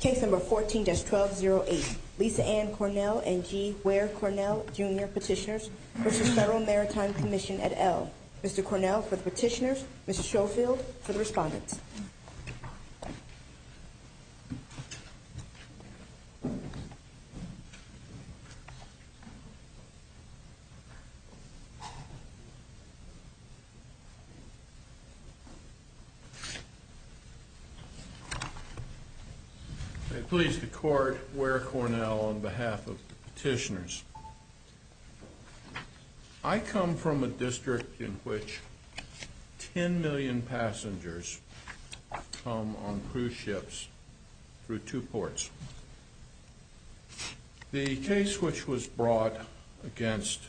Case number 14-1208, Lisa Ann Cornell and G. Ware Cornell Jr. Petitioners v. Federal Maritime Commission et al. Mr. Cornell for the petitioners, Mrs. Schofield for the respondents. May it please the court, Ware Cornell on behalf of the petitioners. I come from a district in which 10 million passengers come on cruise ships through two ports. The case which was brought against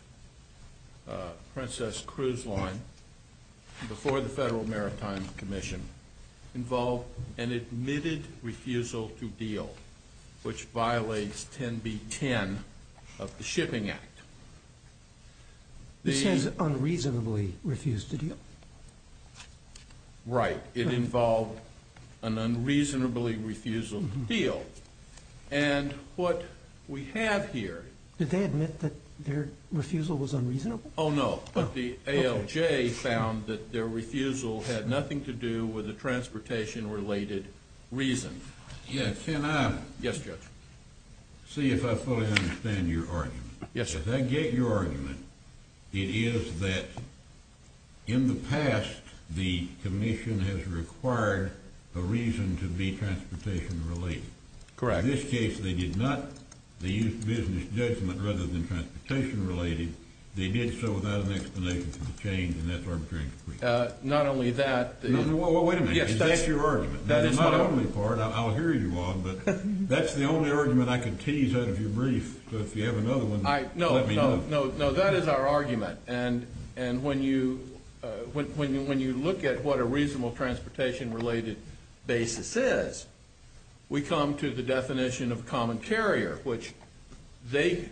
Princess Cruise Line before the Federal Maritime Commission involved an admitted refusal to deal, which violates 10b-10 of the Shipping Act. This has unreasonably refused to deal? Right. It involved an unreasonably refusal to deal. And what we have here... Did they admit that their refusal was unreasonable? Oh, no. But the ALJ found that their refusal had nothing to do with a transportation-related reason. Can I see if I fully understand your argument? Yes, sir. If I get your argument, it is that in the past, the commission has required a reason to be transportation-related. Correct. In this case, they used business judgment rather than transportation-related. They did so without an explanation for the change, and that's arbitrary. Not only that... Wait a minute. Is that your argument? That's not only part. I'll hear you on, but that's the only argument I can tease out of your brief. But if you have another one, let me know. No, that is our argument. And when you look at what a reasonable transportation-related basis is, we come to the definition of common carrier, which the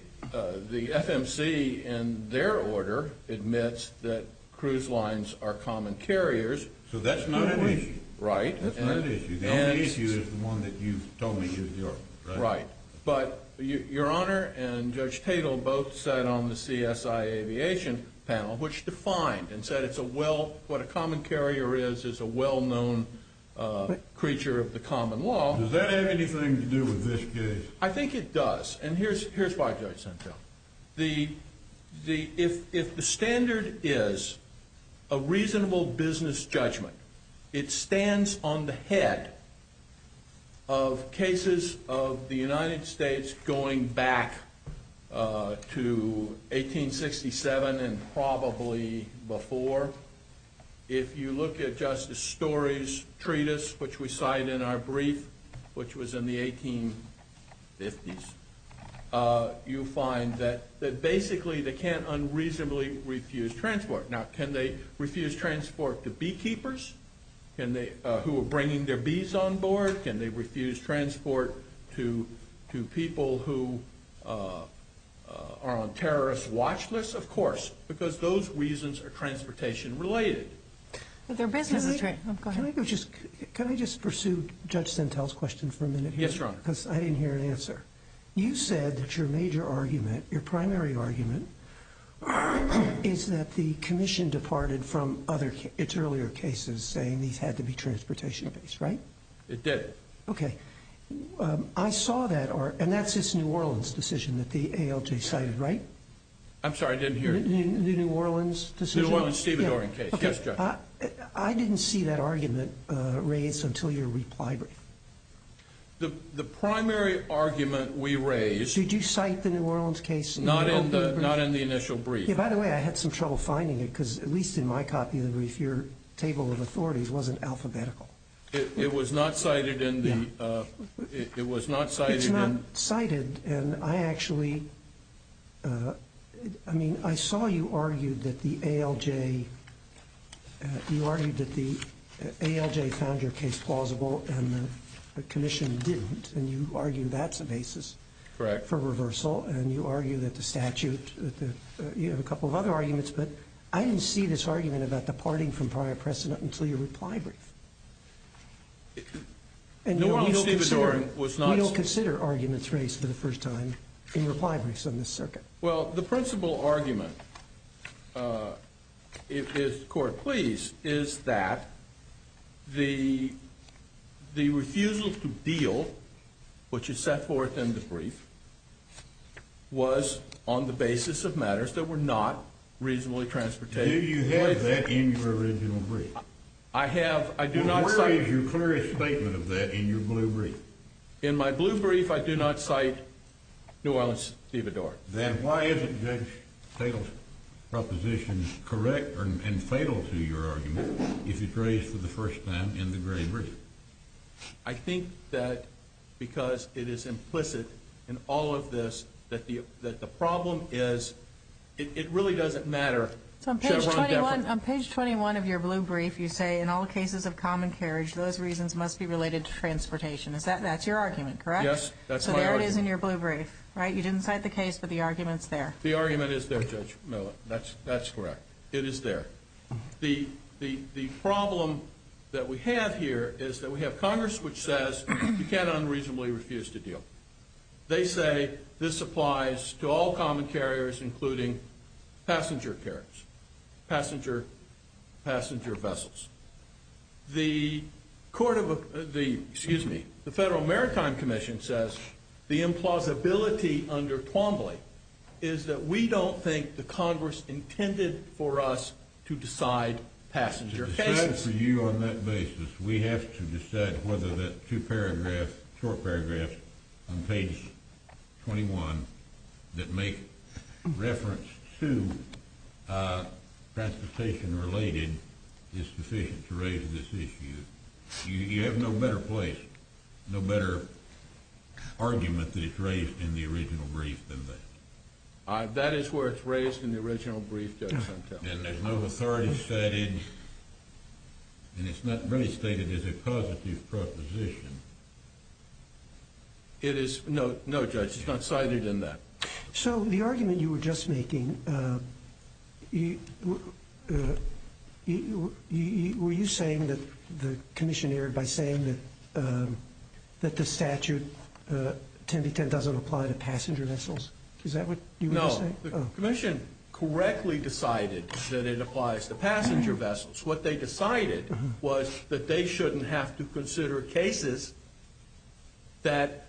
FMC, in their order, admits that cruise lines are common carriers. So that's not an issue. Right. That's not an issue. The only issue is the one that you've told me is yours, right? Right. But Your Honor and Judge Tatel both sat on the CSIAviation panel, which defined and said what a common carrier is is a well-known creature of the common law. Does that have anything to do with this case? I think it does. And here's why I sent you. If the standard is a reasonable business judgment, it stands on the head of cases of the United States going back to 1867 and probably before. If you look at Justice Story's treatise, which we cite in our brief, which was in the 1850s, you find that basically they can't unreasonably refuse transport. Now, can they refuse transport to beekeepers who are bringing their bees on board? Can they refuse transport to people who are on terrorist watch lists? Of course, because those reasons are transportation-related. But their business is— Go ahead. Can I just pursue Judge Sentel's question for a minute here? Yes, Your Honor. Because I didn't hear an answer. You said that your major argument, your primary argument, is that the commission departed from its earlier cases saying these had to be transportation-based, right? It did. Okay. I saw that, and that's this New Orleans decision that the ALJ cited, right? I'm sorry, I didn't hear— The New Orleans decision? The New Orleans-Stevenson case, yes, Judge. I didn't see that argument raised until your reply brief. The primary argument we raised— Did you cite the New Orleans case? Not in the initial brief. Yeah, by the way, I had some trouble finding it because, at least in my copy of the brief, your table of authorities wasn't alphabetical. It was not cited in the— Yeah. It was not cited in— The commission didn't, and you argue that's the basis— Correct. —for reversal, and you argue that the statute—you have a couple of other arguments, but I didn't see this argument about departing from prior precedent until your reply brief. New Orleans-Stevenson was not— We don't consider arguments raised for the first time in reply briefs on this circuit. Well, the principal argument, if the Court please, is that the refusal to deal, which is set forth in the brief, was on the basis of matters that were not reasonably transportation— Do you have that in your original brief? I have—I do not cite— Where is your clearest statement of that in your blue brief? In my blue brief, I do not cite New Orleans-Devador. Then why isn't this proposition correct and fatal to your argument if it's raised for the first time in the gray brief? I think that because it is implicit in all of this that the problem is—it really doesn't matter— On page 21 of your blue brief, you say, in all cases of common carriage, those reasons must be related to transportation. That's your argument, correct? Yes, that's my argument. So there it is in your blue brief, right? You didn't cite the case, but the argument's there. The argument is there, Judge Miller. That's correct. It is there. The problem that we have here is that we have Congress, which says you can't unreasonably refuse to deal. They say this applies to all common carriers, including passenger carriers, passenger vessels. The Federal Maritime Commission says the implausibility under Twombly is that we don't think the Congress intended for us to decide passenger cases. To decide for you on that basis, we have to decide whether that two short paragraphs on page 21 that make reference to transportation-related is sufficient to raise this issue. You have no better place, no better argument that it's raised in the original brief than that. That is where it's raised in the original brief, Judge Suntell. And there's no authority cited, and it's not really stated as a causative proposition. No, Judge, it's not cited in that. So the argument you were just making, were you saying that the commission erred by saying that the statute 10 to 10 doesn't apply to passenger vessels? Is that what you were saying? No, the commission correctly decided that it applies to passenger vessels. What they decided was that they shouldn't have to consider cases that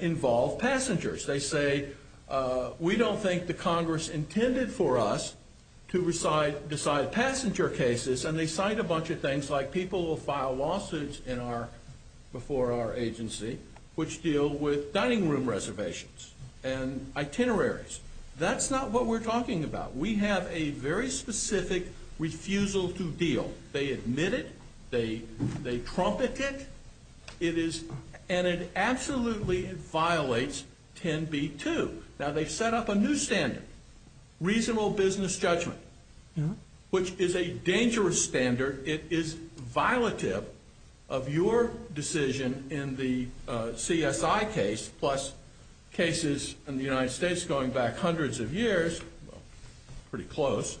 involve passengers. They say we don't think the Congress intended for us to decide passenger cases, and they cite a bunch of things like people who file lawsuits before our agency which deal with dining room reservations and itineraries. That's not what we're talking about. We have a very specific refusal to deal. They admit it. They trumpet it. And it absolutely violates 10b-2. Now, they've set up a new standard, reasonable business judgment, which is a dangerous standard. It is violative of your decision in the CSI case, plus cases in the United States going back hundreds of years, pretty close,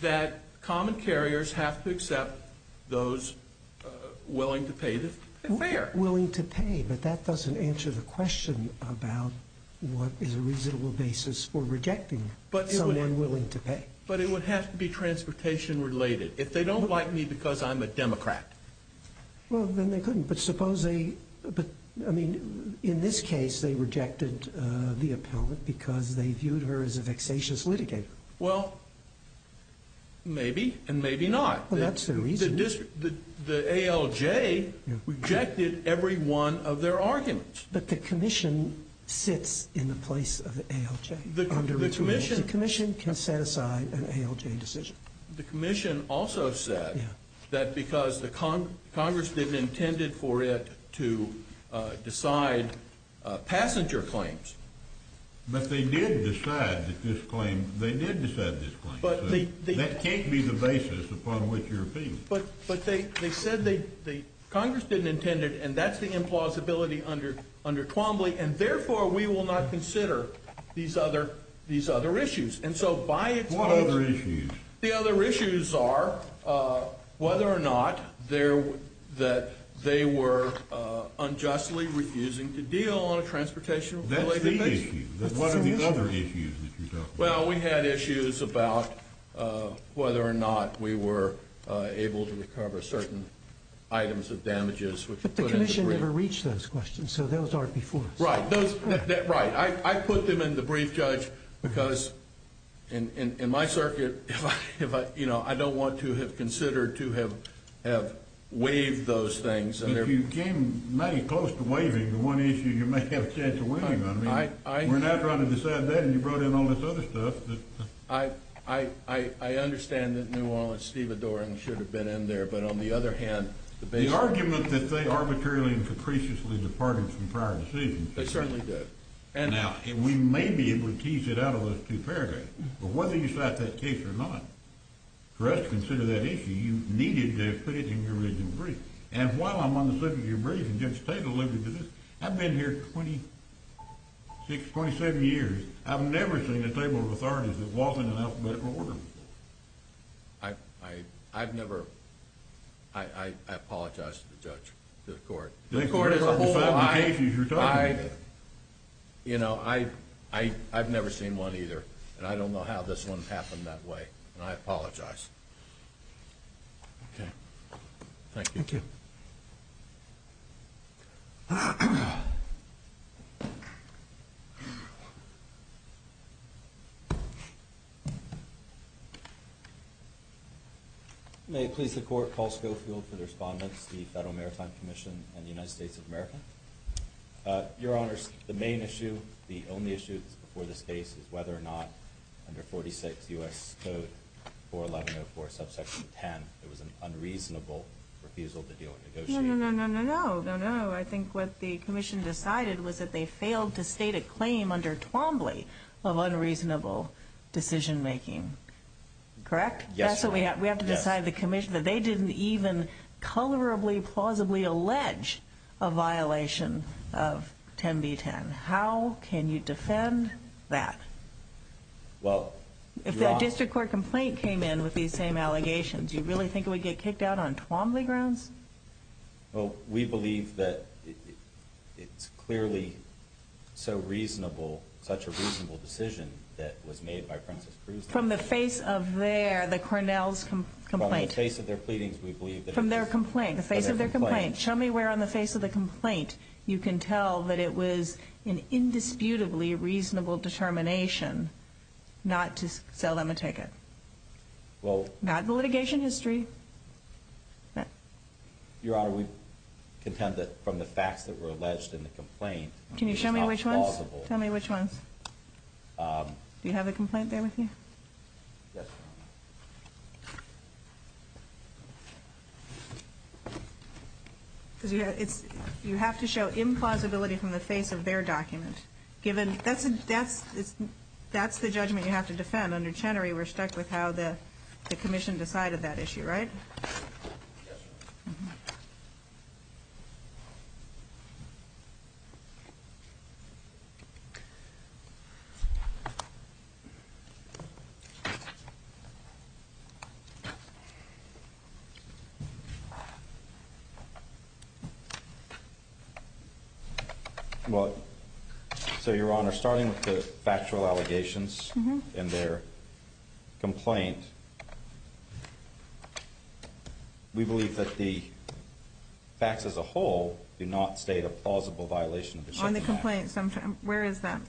that common carriers have to accept those willing to pay the fare. Willing to pay, but that doesn't answer the question about what is a reasonable basis for rejecting someone willing to pay. But it would have to be transportation-related. If they don't like me because I'm a Democrat. Well, then they couldn't. But suppose they – but, I mean, in this case they rejected the appellant because they viewed her as a vexatious litigator. Well, maybe and maybe not. Well, that's the reason. The ALJ rejected every one of their arguments. But the commission sits in the place of the ALJ. The commission can set aside an ALJ decision. The commission also said that because the Congress didn't intend for it to decide passenger claims. But they did decide that this claim – they did decide this claim. So that can't be the basis upon which you're appealing. But they said the Congress didn't intend it, and that's the implausibility under Twombly, and therefore we will not consider these other issues. And so by its – What other issues? The other issues are whether or not they were unjustly refusing to deal on a transportation-related basis. That's the issue. What are the other issues that you're talking about? Well, we had issues about whether or not we were able to recover certain items of damages. But the commission never reached those questions, so those aren't before us. Right. I put them in the brief, Judge, because in my circuit, if I – you know, I don't want to have considered to have waived those things. But you came mighty close to waiving the one issue you may have a chance of waiving on. I mean, we're now trying to decide that, and you brought in all this other stuff. I understand that New Orleans, Steve Adorn should have been in there, but on the other hand – The argument that they arbitrarily and capriciously departed from prior decisions. They certainly did. Now, we may be able to tease it out of those two paragraphs. But whether you cite that case or not, for us to consider that issue, you needed to have put it in your written brief. And while I'm on the circuit of your brief, and Judge Tate alluded to this, I've been here 26, 27 years. I've never seen a table of authorities that wasn't in alphabetical order before. I've never – I apologize to the judge, to the court. The court has a whole lot of cases you're talking about. You know, I've never seen one either, and I don't know how this one happened that way. And I apologize. Okay. Thank you. Thank you. May it please the Court. Paul Schofield for the respondents, the Federal Maritime Commission, and the United States of America. Your Honors, the main issue, the only issue before this case, is whether or not under 46 U.S. Code 41104, subsection 10, there was an unreasonable refusal to deal with negotiations. No, no, no, no, no, no, no. I think what the Commission decided was that they failed to state a claim under Twombly of unreasonable decision-making. Correct? Yes. So we have to decide the Commission that they didn't even colorably, plausibly allege a violation of 10b10. How can you defend that? Well – If that district court complaint came in with these same allegations, do you really think it would get kicked out on Twombly grounds? Well, we believe that it's clearly so reasonable, such a reasonable decision that was made by Princess Cruz. From the face of their, the Cornell's complaint. From the face of their pleadings, we believe that it was – From their complaint, the face of their complaint. Show me where on the face of the complaint you can tell that it was an indisputably reasonable determination not to sell them a ticket. Well – Not the litigation history. Your Honor, we contend that from the facts that were alleged in the complaint – Can you show me which ones? – it was not plausible. Tell me which ones. Do you have the complaint there with you? Yes, Your Honor. You have to show implausibility from the face of their document. Given – that's the judgment you have to defend. Under Chenery, we're stuck with how the commission decided that issue, right? Yes, Your Honor. Mm-hmm. Well, so Your Honor, starting with the factual allegations – Mm-hmm. – in their complaint, we believe that the facts as a whole do not state a plausible violation of the Chenery Act. On the complaint, where is that?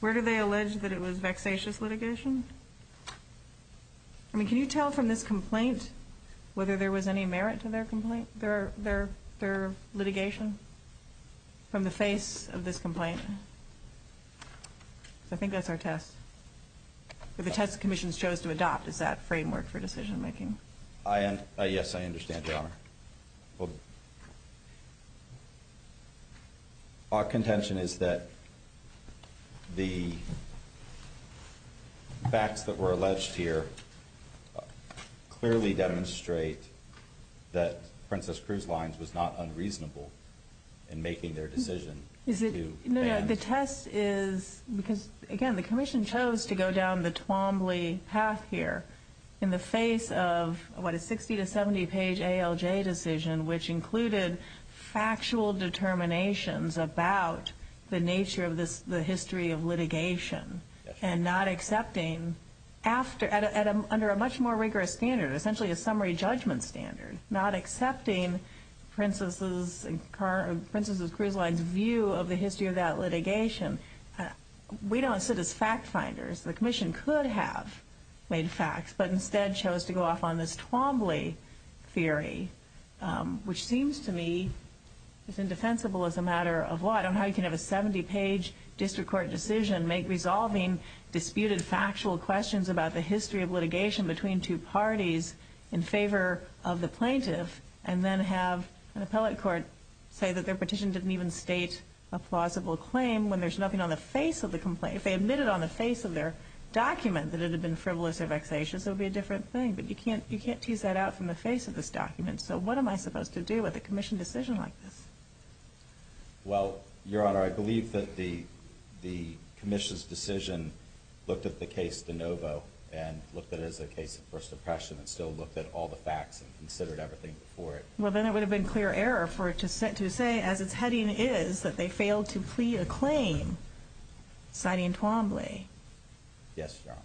Where do they allege that it was vexatious litigation? I mean, can you tell from this complaint whether there was any merit to their complaint, their litigation, from the face of this complaint? I think that's our test. The test the commission chose to adopt is that framework for decision-making. Yes, I understand, Your Honor. Our contention is that the facts that were alleged here clearly demonstrate that Princess Cruz Lines was not unreasonable in making their decision. Is it – no, no. The test is – because, again, the commission chose to go down the Twombly path here in the face of, what, a 60- to 70-page ALJ decision, which included factual determinations about the nature of the history of litigation and not accepting – under a much more rigorous standard, essentially a summary judgment standard, not accepting Princess Cruz Lines' view of the history of that litigation. We don't sit as fact-finders. The commission could have made facts, but instead chose to go off on this Twombly theory, which seems to me as indefensible as a matter of law. I don't know how you can have a 70-page district court decision make resolving disputed factual questions about the history of litigation between two parties in favor of the plaintiff and then have an appellate court say that their petition didn't even state a plausible claim when there's nothing on the face of the complaint. If they admitted on the face of their document that it had been frivolous or vexatious, it would be a different thing. But you can't tease that out from the face of this document. So what am I supposed to do with a commission decision like this? Well, Your Honor, I believe that the commission's decision looked at the case de novo and looked at it as a case of first impression and still looked at all the facts and considered everything before it. Well, then it would have been clear error for it to say, as its heading is, that they failed to plea a claim, citing Twombly. Yes, Your Honor.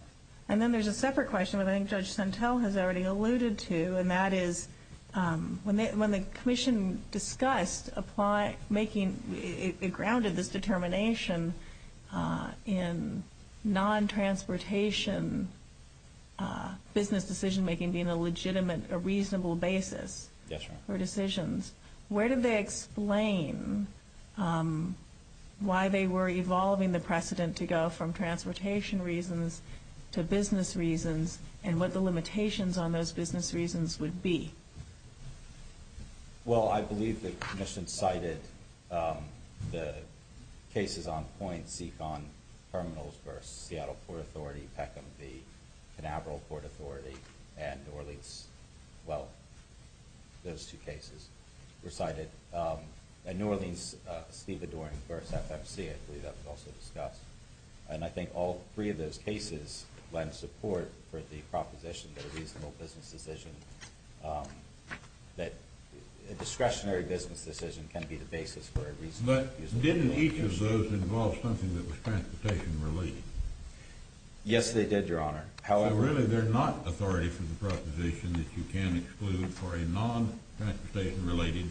And then there's a separate question, which I think Judge Sentelle has already alluded to, and that is when the commission discussed making a grounded determination in non-transportation business decision-making being a legitimate, a reasonable basis for decisions, where did they explain why they were evolving the precedent to go from transportation reasons to business reasons and what the limitations on those business reasons would be? Well, I believe the commission cited the cases on point, Seekon Terminals v. Seattle Port Authority, Peckham v. Canaveral Port Authority, and New Orleans. Well, those two cases were cited. And New Orleans, Stevedore v. FFC, I believe that was also discussed. And I think all three of those cases lend support for the proposition that a reasonable business decision, that a discretionary business decision can be the basis for a reasonable business decision. But didn't each of those involve something that was transportation-related? Yes, they did, Your Honor. So really they're not authority for the proposition that you can exclude for a non-transportation-related,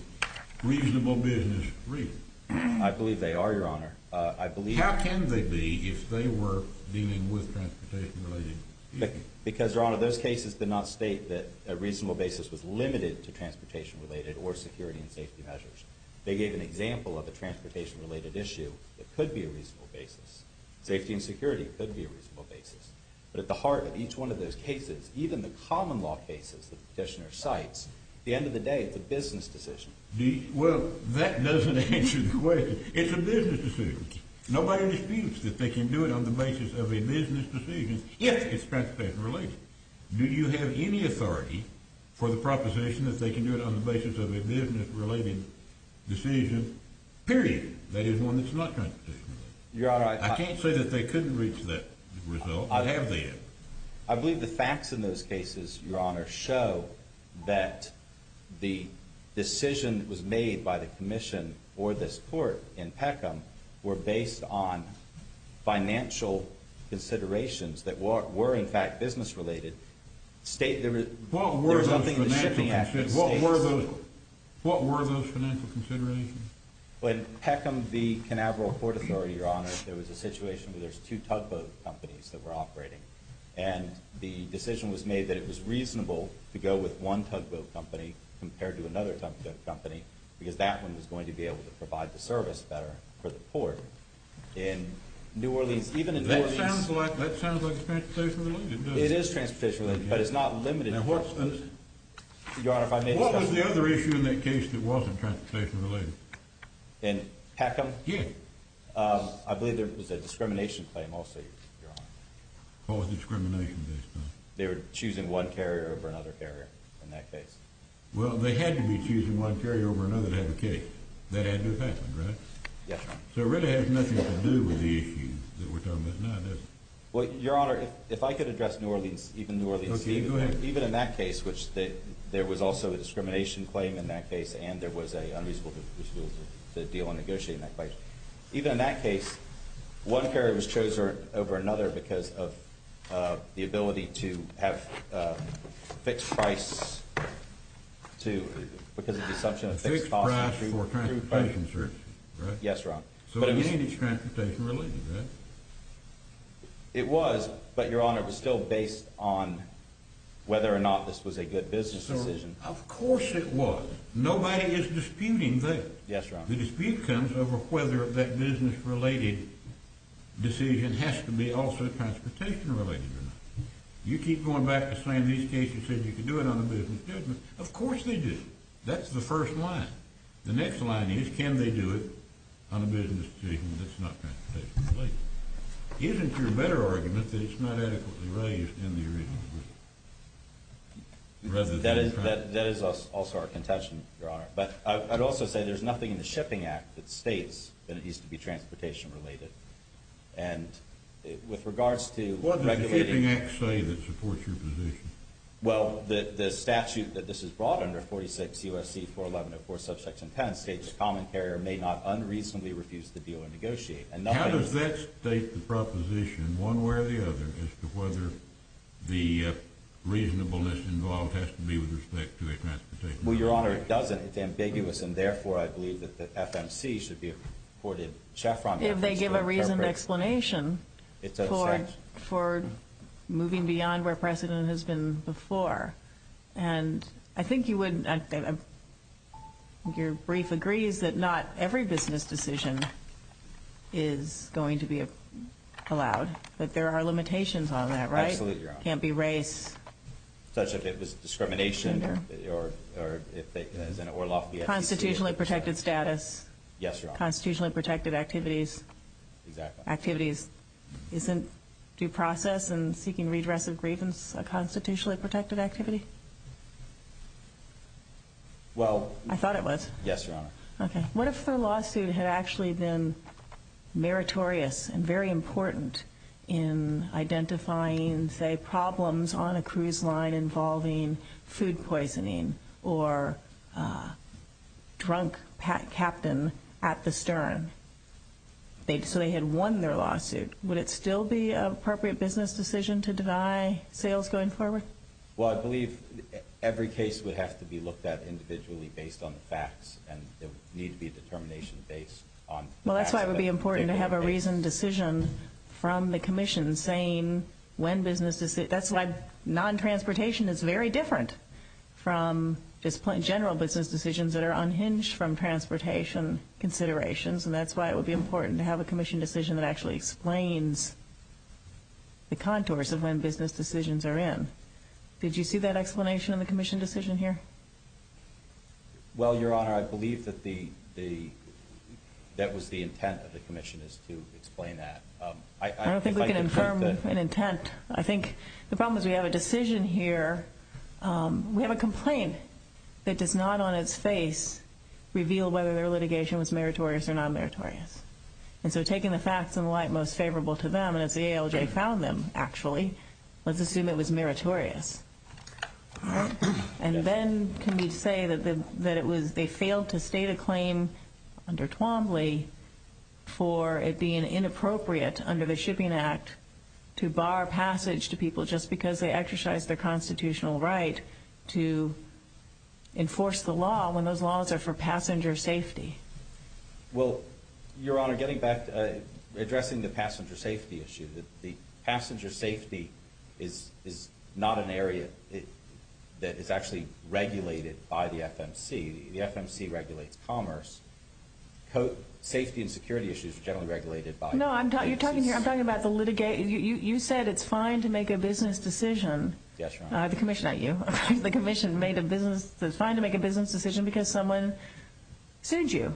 reasonable business reason? I believe they are, Your Honor. How can they be if they were dealing with transportation-related issues? Because, Your Honor, those cases did not state that a reasonable basis was limited to transportation-related or security and safety measures. They gave an example of a transportation-related issue that could be a reasonable basis. Safety and security could be a reasonable basis. But at the heart of each one of those cases, even the common law cases that the petitioner cites, at the end of the day, it's a business decision. Well, that doesn't answer the question. It's a business decision. Nobody disputes that they can do it on the basis of a business decision if it's transportation-related. Do you have any authority for the proposition that they can do it on the basis of a business-related decision? Period. That is one that's not transportation-related. I can't say that they couldn't reach that result. I believe the facts in those cases, Your Honor, show that the decision that was made by the commission for this court in Peckham were based on financial considerations that were, in fact, business-related. What were those financial considerations? In Peckham v. Canaveral Court Authority, Your Honor, there was a situation where there were two tugboat companies that were operating. And the decision was made that it was reasonable to go with one tugboat company compared to another tugboat company because that one was going to be able to provide the service better for the port. That sounds like it's transportation-related, doesn't it? It is transportation-related, but it's not limited to that. What was the other issue in that case that wasn't transportation-related? In Peckham? Yes. I believe there was a discrimination claim also, Your Honor. What was the discrimination case? They were choosing one carrier over another carrier in that case. Well, they had to be choosing one carrier over another to have a case. That had to have happened, right? Yes, Your Honor. So it really has nothing to do with the issue that we're talking about now, does it? Well, Your Honor, if I could address New Orleans, even New Orleans. Okay, go ahead. Even in that case, which there was also a discrimination claim in that case and there was an unreasonable decision to deal and negotiate in that case, but even in that case, one carrier was chosen over another because of the ability to have fixed price because of the assumption of fixed costs. Fixed price for transportation services, right? Yes, Your Honor. So it is transportation-related, right? It was, but, Your Honor, it was still based on whether or not this was a good business decision. Of course it was. Nobody is disputing that. Yes, Your Honor. The dispute comes over whether that business-related decision has to be also transportation-related or not. You keep going back to saying these cases said you could do it on a business judgment. Of course they did. That's the first line. The next line is, can they do it on a business judgment that's not transportation-related? Isn't your better argument that it's not adequately raised in the original? That is also our contention, Your Honor. But I'd also say there's nothing in the Shipping Act that states that it needs to be transportation-related. And with regards to regulating— What does the Shipping Act say that supports your position? Well, the statute that this is brought under, 46 U.S.C. 411-04, subsection 10, states a common carrier may not unreasonably refuse the deal and negotiate. How does that state the proposition, one way or the other, as to whether the reasonableness involved has to be with respect to a transportation-related issue? Well, Your Honor, it doesn't. It's ambiguous, and therefore I believe that the FMC should be afforded chaperone— If they give a reasoned explanation for moving beyond where precedent has been before. And I think you would—your brief agrees that not every business decision is going to be allowed. But there are limitations on that, right? Absolutely, Your Honor. It can't be race. Such as if it was discrimination or— Constitutionally protected status. Yes, Your Honor. Constitutionally protected activities. Exactly. Activities—isn't due process and seeking redress of grievance a constitutionally protected activity? Well— I thought it was. Yes, Your Honor. Okay. What if the lawsuit had actually been meritorious and very important in identifying, say, problems on a cruise line involving food poisoning or a drunk captain at the stern? So they had won their lawsuit. Would it still be an appropriate business decision to deny sales going forward? Well, I believe every case would have to be looked at individually based on the facts. And there would need to be a determination based on— Well, that's why it would be important to have a reasoned decision from the Commission saying when business— that's why non-transportation is very different from general business decisions that are unhinged from transportation considerations. And that's why it would be important to have a Commission decision that actually explains the contours of when business decisions are in. Did you see that explanation in the Commission decision here? Well, Your Honor, I believe that the—that was the intent of the Commission is to explain that. I don't think we can confirm an intent. I think the problem is we have a decision here. We have a complaint that does not on its face reveal whether their litigation was meritorious or non-meritorious. And so taking the facts in light most favorable to them, and it's the ALJ found them, actually, let's assume it was meritorious. And then can we say that it was—they failed to state a claim under Twombly for it being inappropriate under the Shipping Act to bar passage to people just because they exercised their constitutional right to enforce the law when those laws are for passenger safety? Well, Your Honor, getting back—addressing the passenger safety issue, the passenger safety is not an area that is actually regulated by the FMC. The FMC regulates commerce. Safety and security issues are generally regulated by— No, you're talking here—I'm talking about the litigation. You said it's fine to make a business decision. Yes, Your Honor. The Commission—not you. The Commission made a business—it's fine to make a business decision because someone sued you.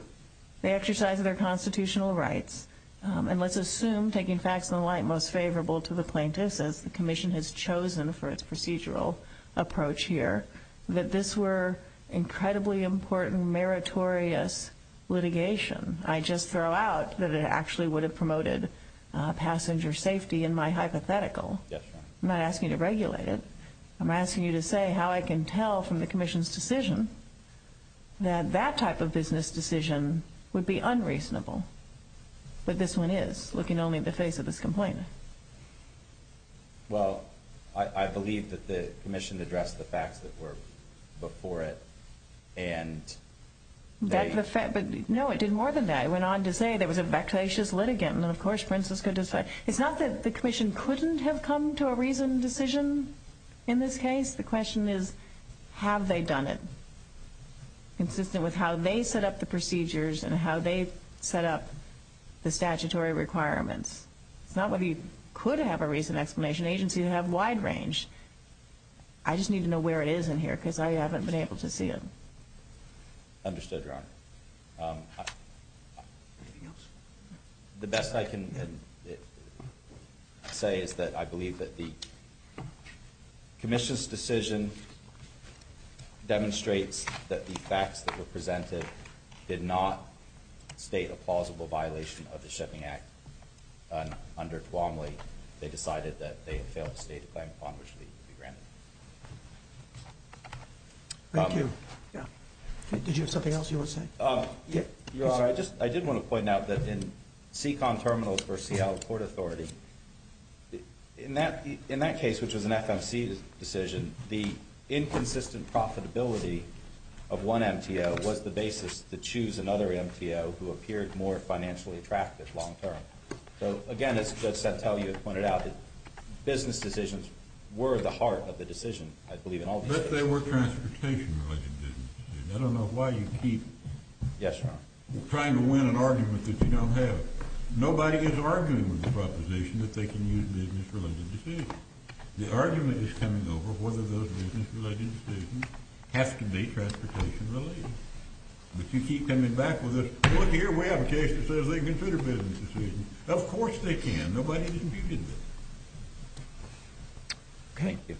They exercised their constitutional rights. And let's assume, taking facts in the light most favorable to the plaintiffs, as the Commission has chosen for its procedural approach here, that this were incredibly important, meritorious litigation. I just throw out that it actually would have promoted passenger safety in my hypothetical. Yes, Your Honor. I'm not asking you to regulate it. I'm asking you to say how I can tell from the Commission's decision that that type of business decision would be unreasonable. But this one is, looking only at the face of this complainant. Well, I believe that the Commission addressed the facts that were before it, and they— No, it did more than that. It went on to say there was a vexatious litigant, and, of course, princes could decide. It's not that the Commission couldn't have come to a reasoned decision in this case. The question is, have they done it? Consistent with how they set up the procedures and how they set up the statutory requirements. It's not whether you could have a reasoned explanation. Agencies have wide range. I just need to know where it is in here because I haven't been able to see it. Understood, Your Honor. Anything else? The best I can say is that I believe that the Commission's decision demonstrates that the facts that were presented did not state a plausible violation of the Shipping Act. Under Duomly, they decided that they had failed to state a claim upon which they would be granted. Thank you. Did you have something else you would say? Your Honor, I did want to point out that in Seacon Terminals v. Seattle Court Authority, in that case, which was an FMC decision, the inconsistent profitability of one MTO was the basis to choose another MTO who appeared more financially attractive long term. So, again, as Judge Santelli had pointed out, business decisions were at the heart of the decision, I believe, in all cases. But they were transportation-related decisions. I don't know why you keep trying to win an argument that you don't have. Nobody is arguing with this proposition that they can use business-related decisions. The argument is coming over whether those business-related decisions have to be transportation-related. But you keep coming back with this, look here, we have a case that says they can consider business decisions. Of course they can. Nobody disputed that. Thank you.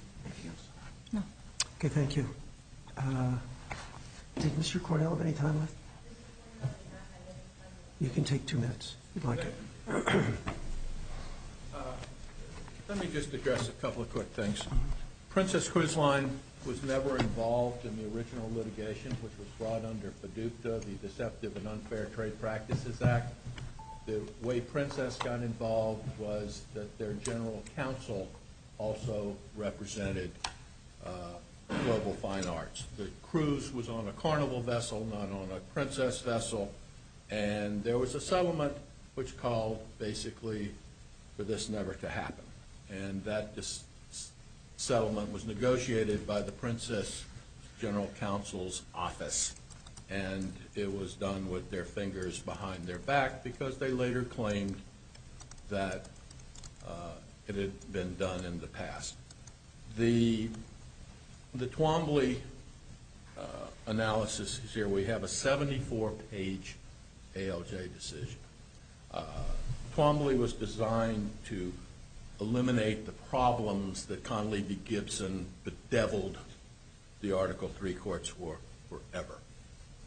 Okay, thank you. Did Mr. Cordell have any time left? You can take two minutes, if you'd like. Let me just address a couple of quick things. Princess Quizline was never involved in the original litigation, which was brought under Paducah, the Deceptive and Unfair Trade Practices Act. The way Princess got involved was that their general counsel also represented Global Fine Arts. The cruise was on a carnival vessel, not on a princess vessel. And there was a settlement which called basically for this never to happen. And that settlement was negotiated by the princess general counsel's office. And it was done with their fingers behind their back because they later claimed that it had been done in the past. The Twombly analysis is here. We have a 74-page ALJ decision. Twombly was designed to eliminate the problems that Conley v. Gibson bedeviled the Article III courts for forever,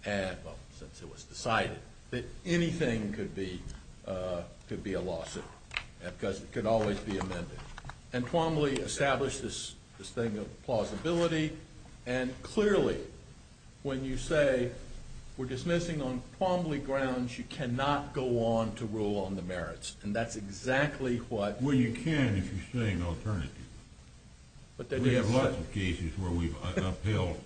since it was decided that anything could be a lawsuit because it could always be amended. And Twombly established this thing of plausibility. And clearly, when you say we're dismissing on Twombly grounds, you cannot go on to rule on the merits. And that's exactly what... Well, you can if you're saying alternative. We have lots of cases where we've upheld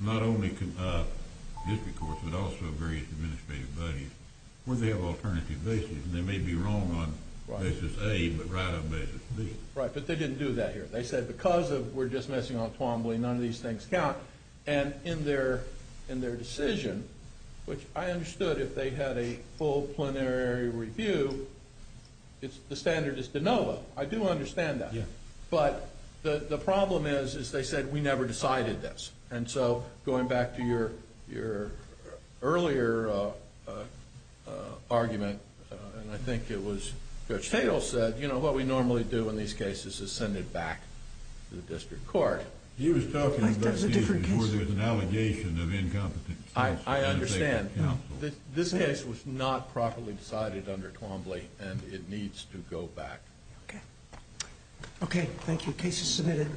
not only district courts but also various administrative bodies where they have alternative basis. And they may be wrong on basis A but right on basis B. Right, but they didn't do that here. They said because we're dismissing on Twombly, none of these things count. And in their decision, which I understood if they had a full plenary review, the standard is de novo. I do understand that. But the problem is they said we never decided this. And so going back to your earlier argument, and I think it was Judge Tatel said, you know, what we normally do in these cases is send it back to the district court. He was talking about the issue where there's an allegation of incompetence. I understand. This case was not properly decided under Twombly, and it needs to go back. Okay. Okay, thank you. Case is submitted.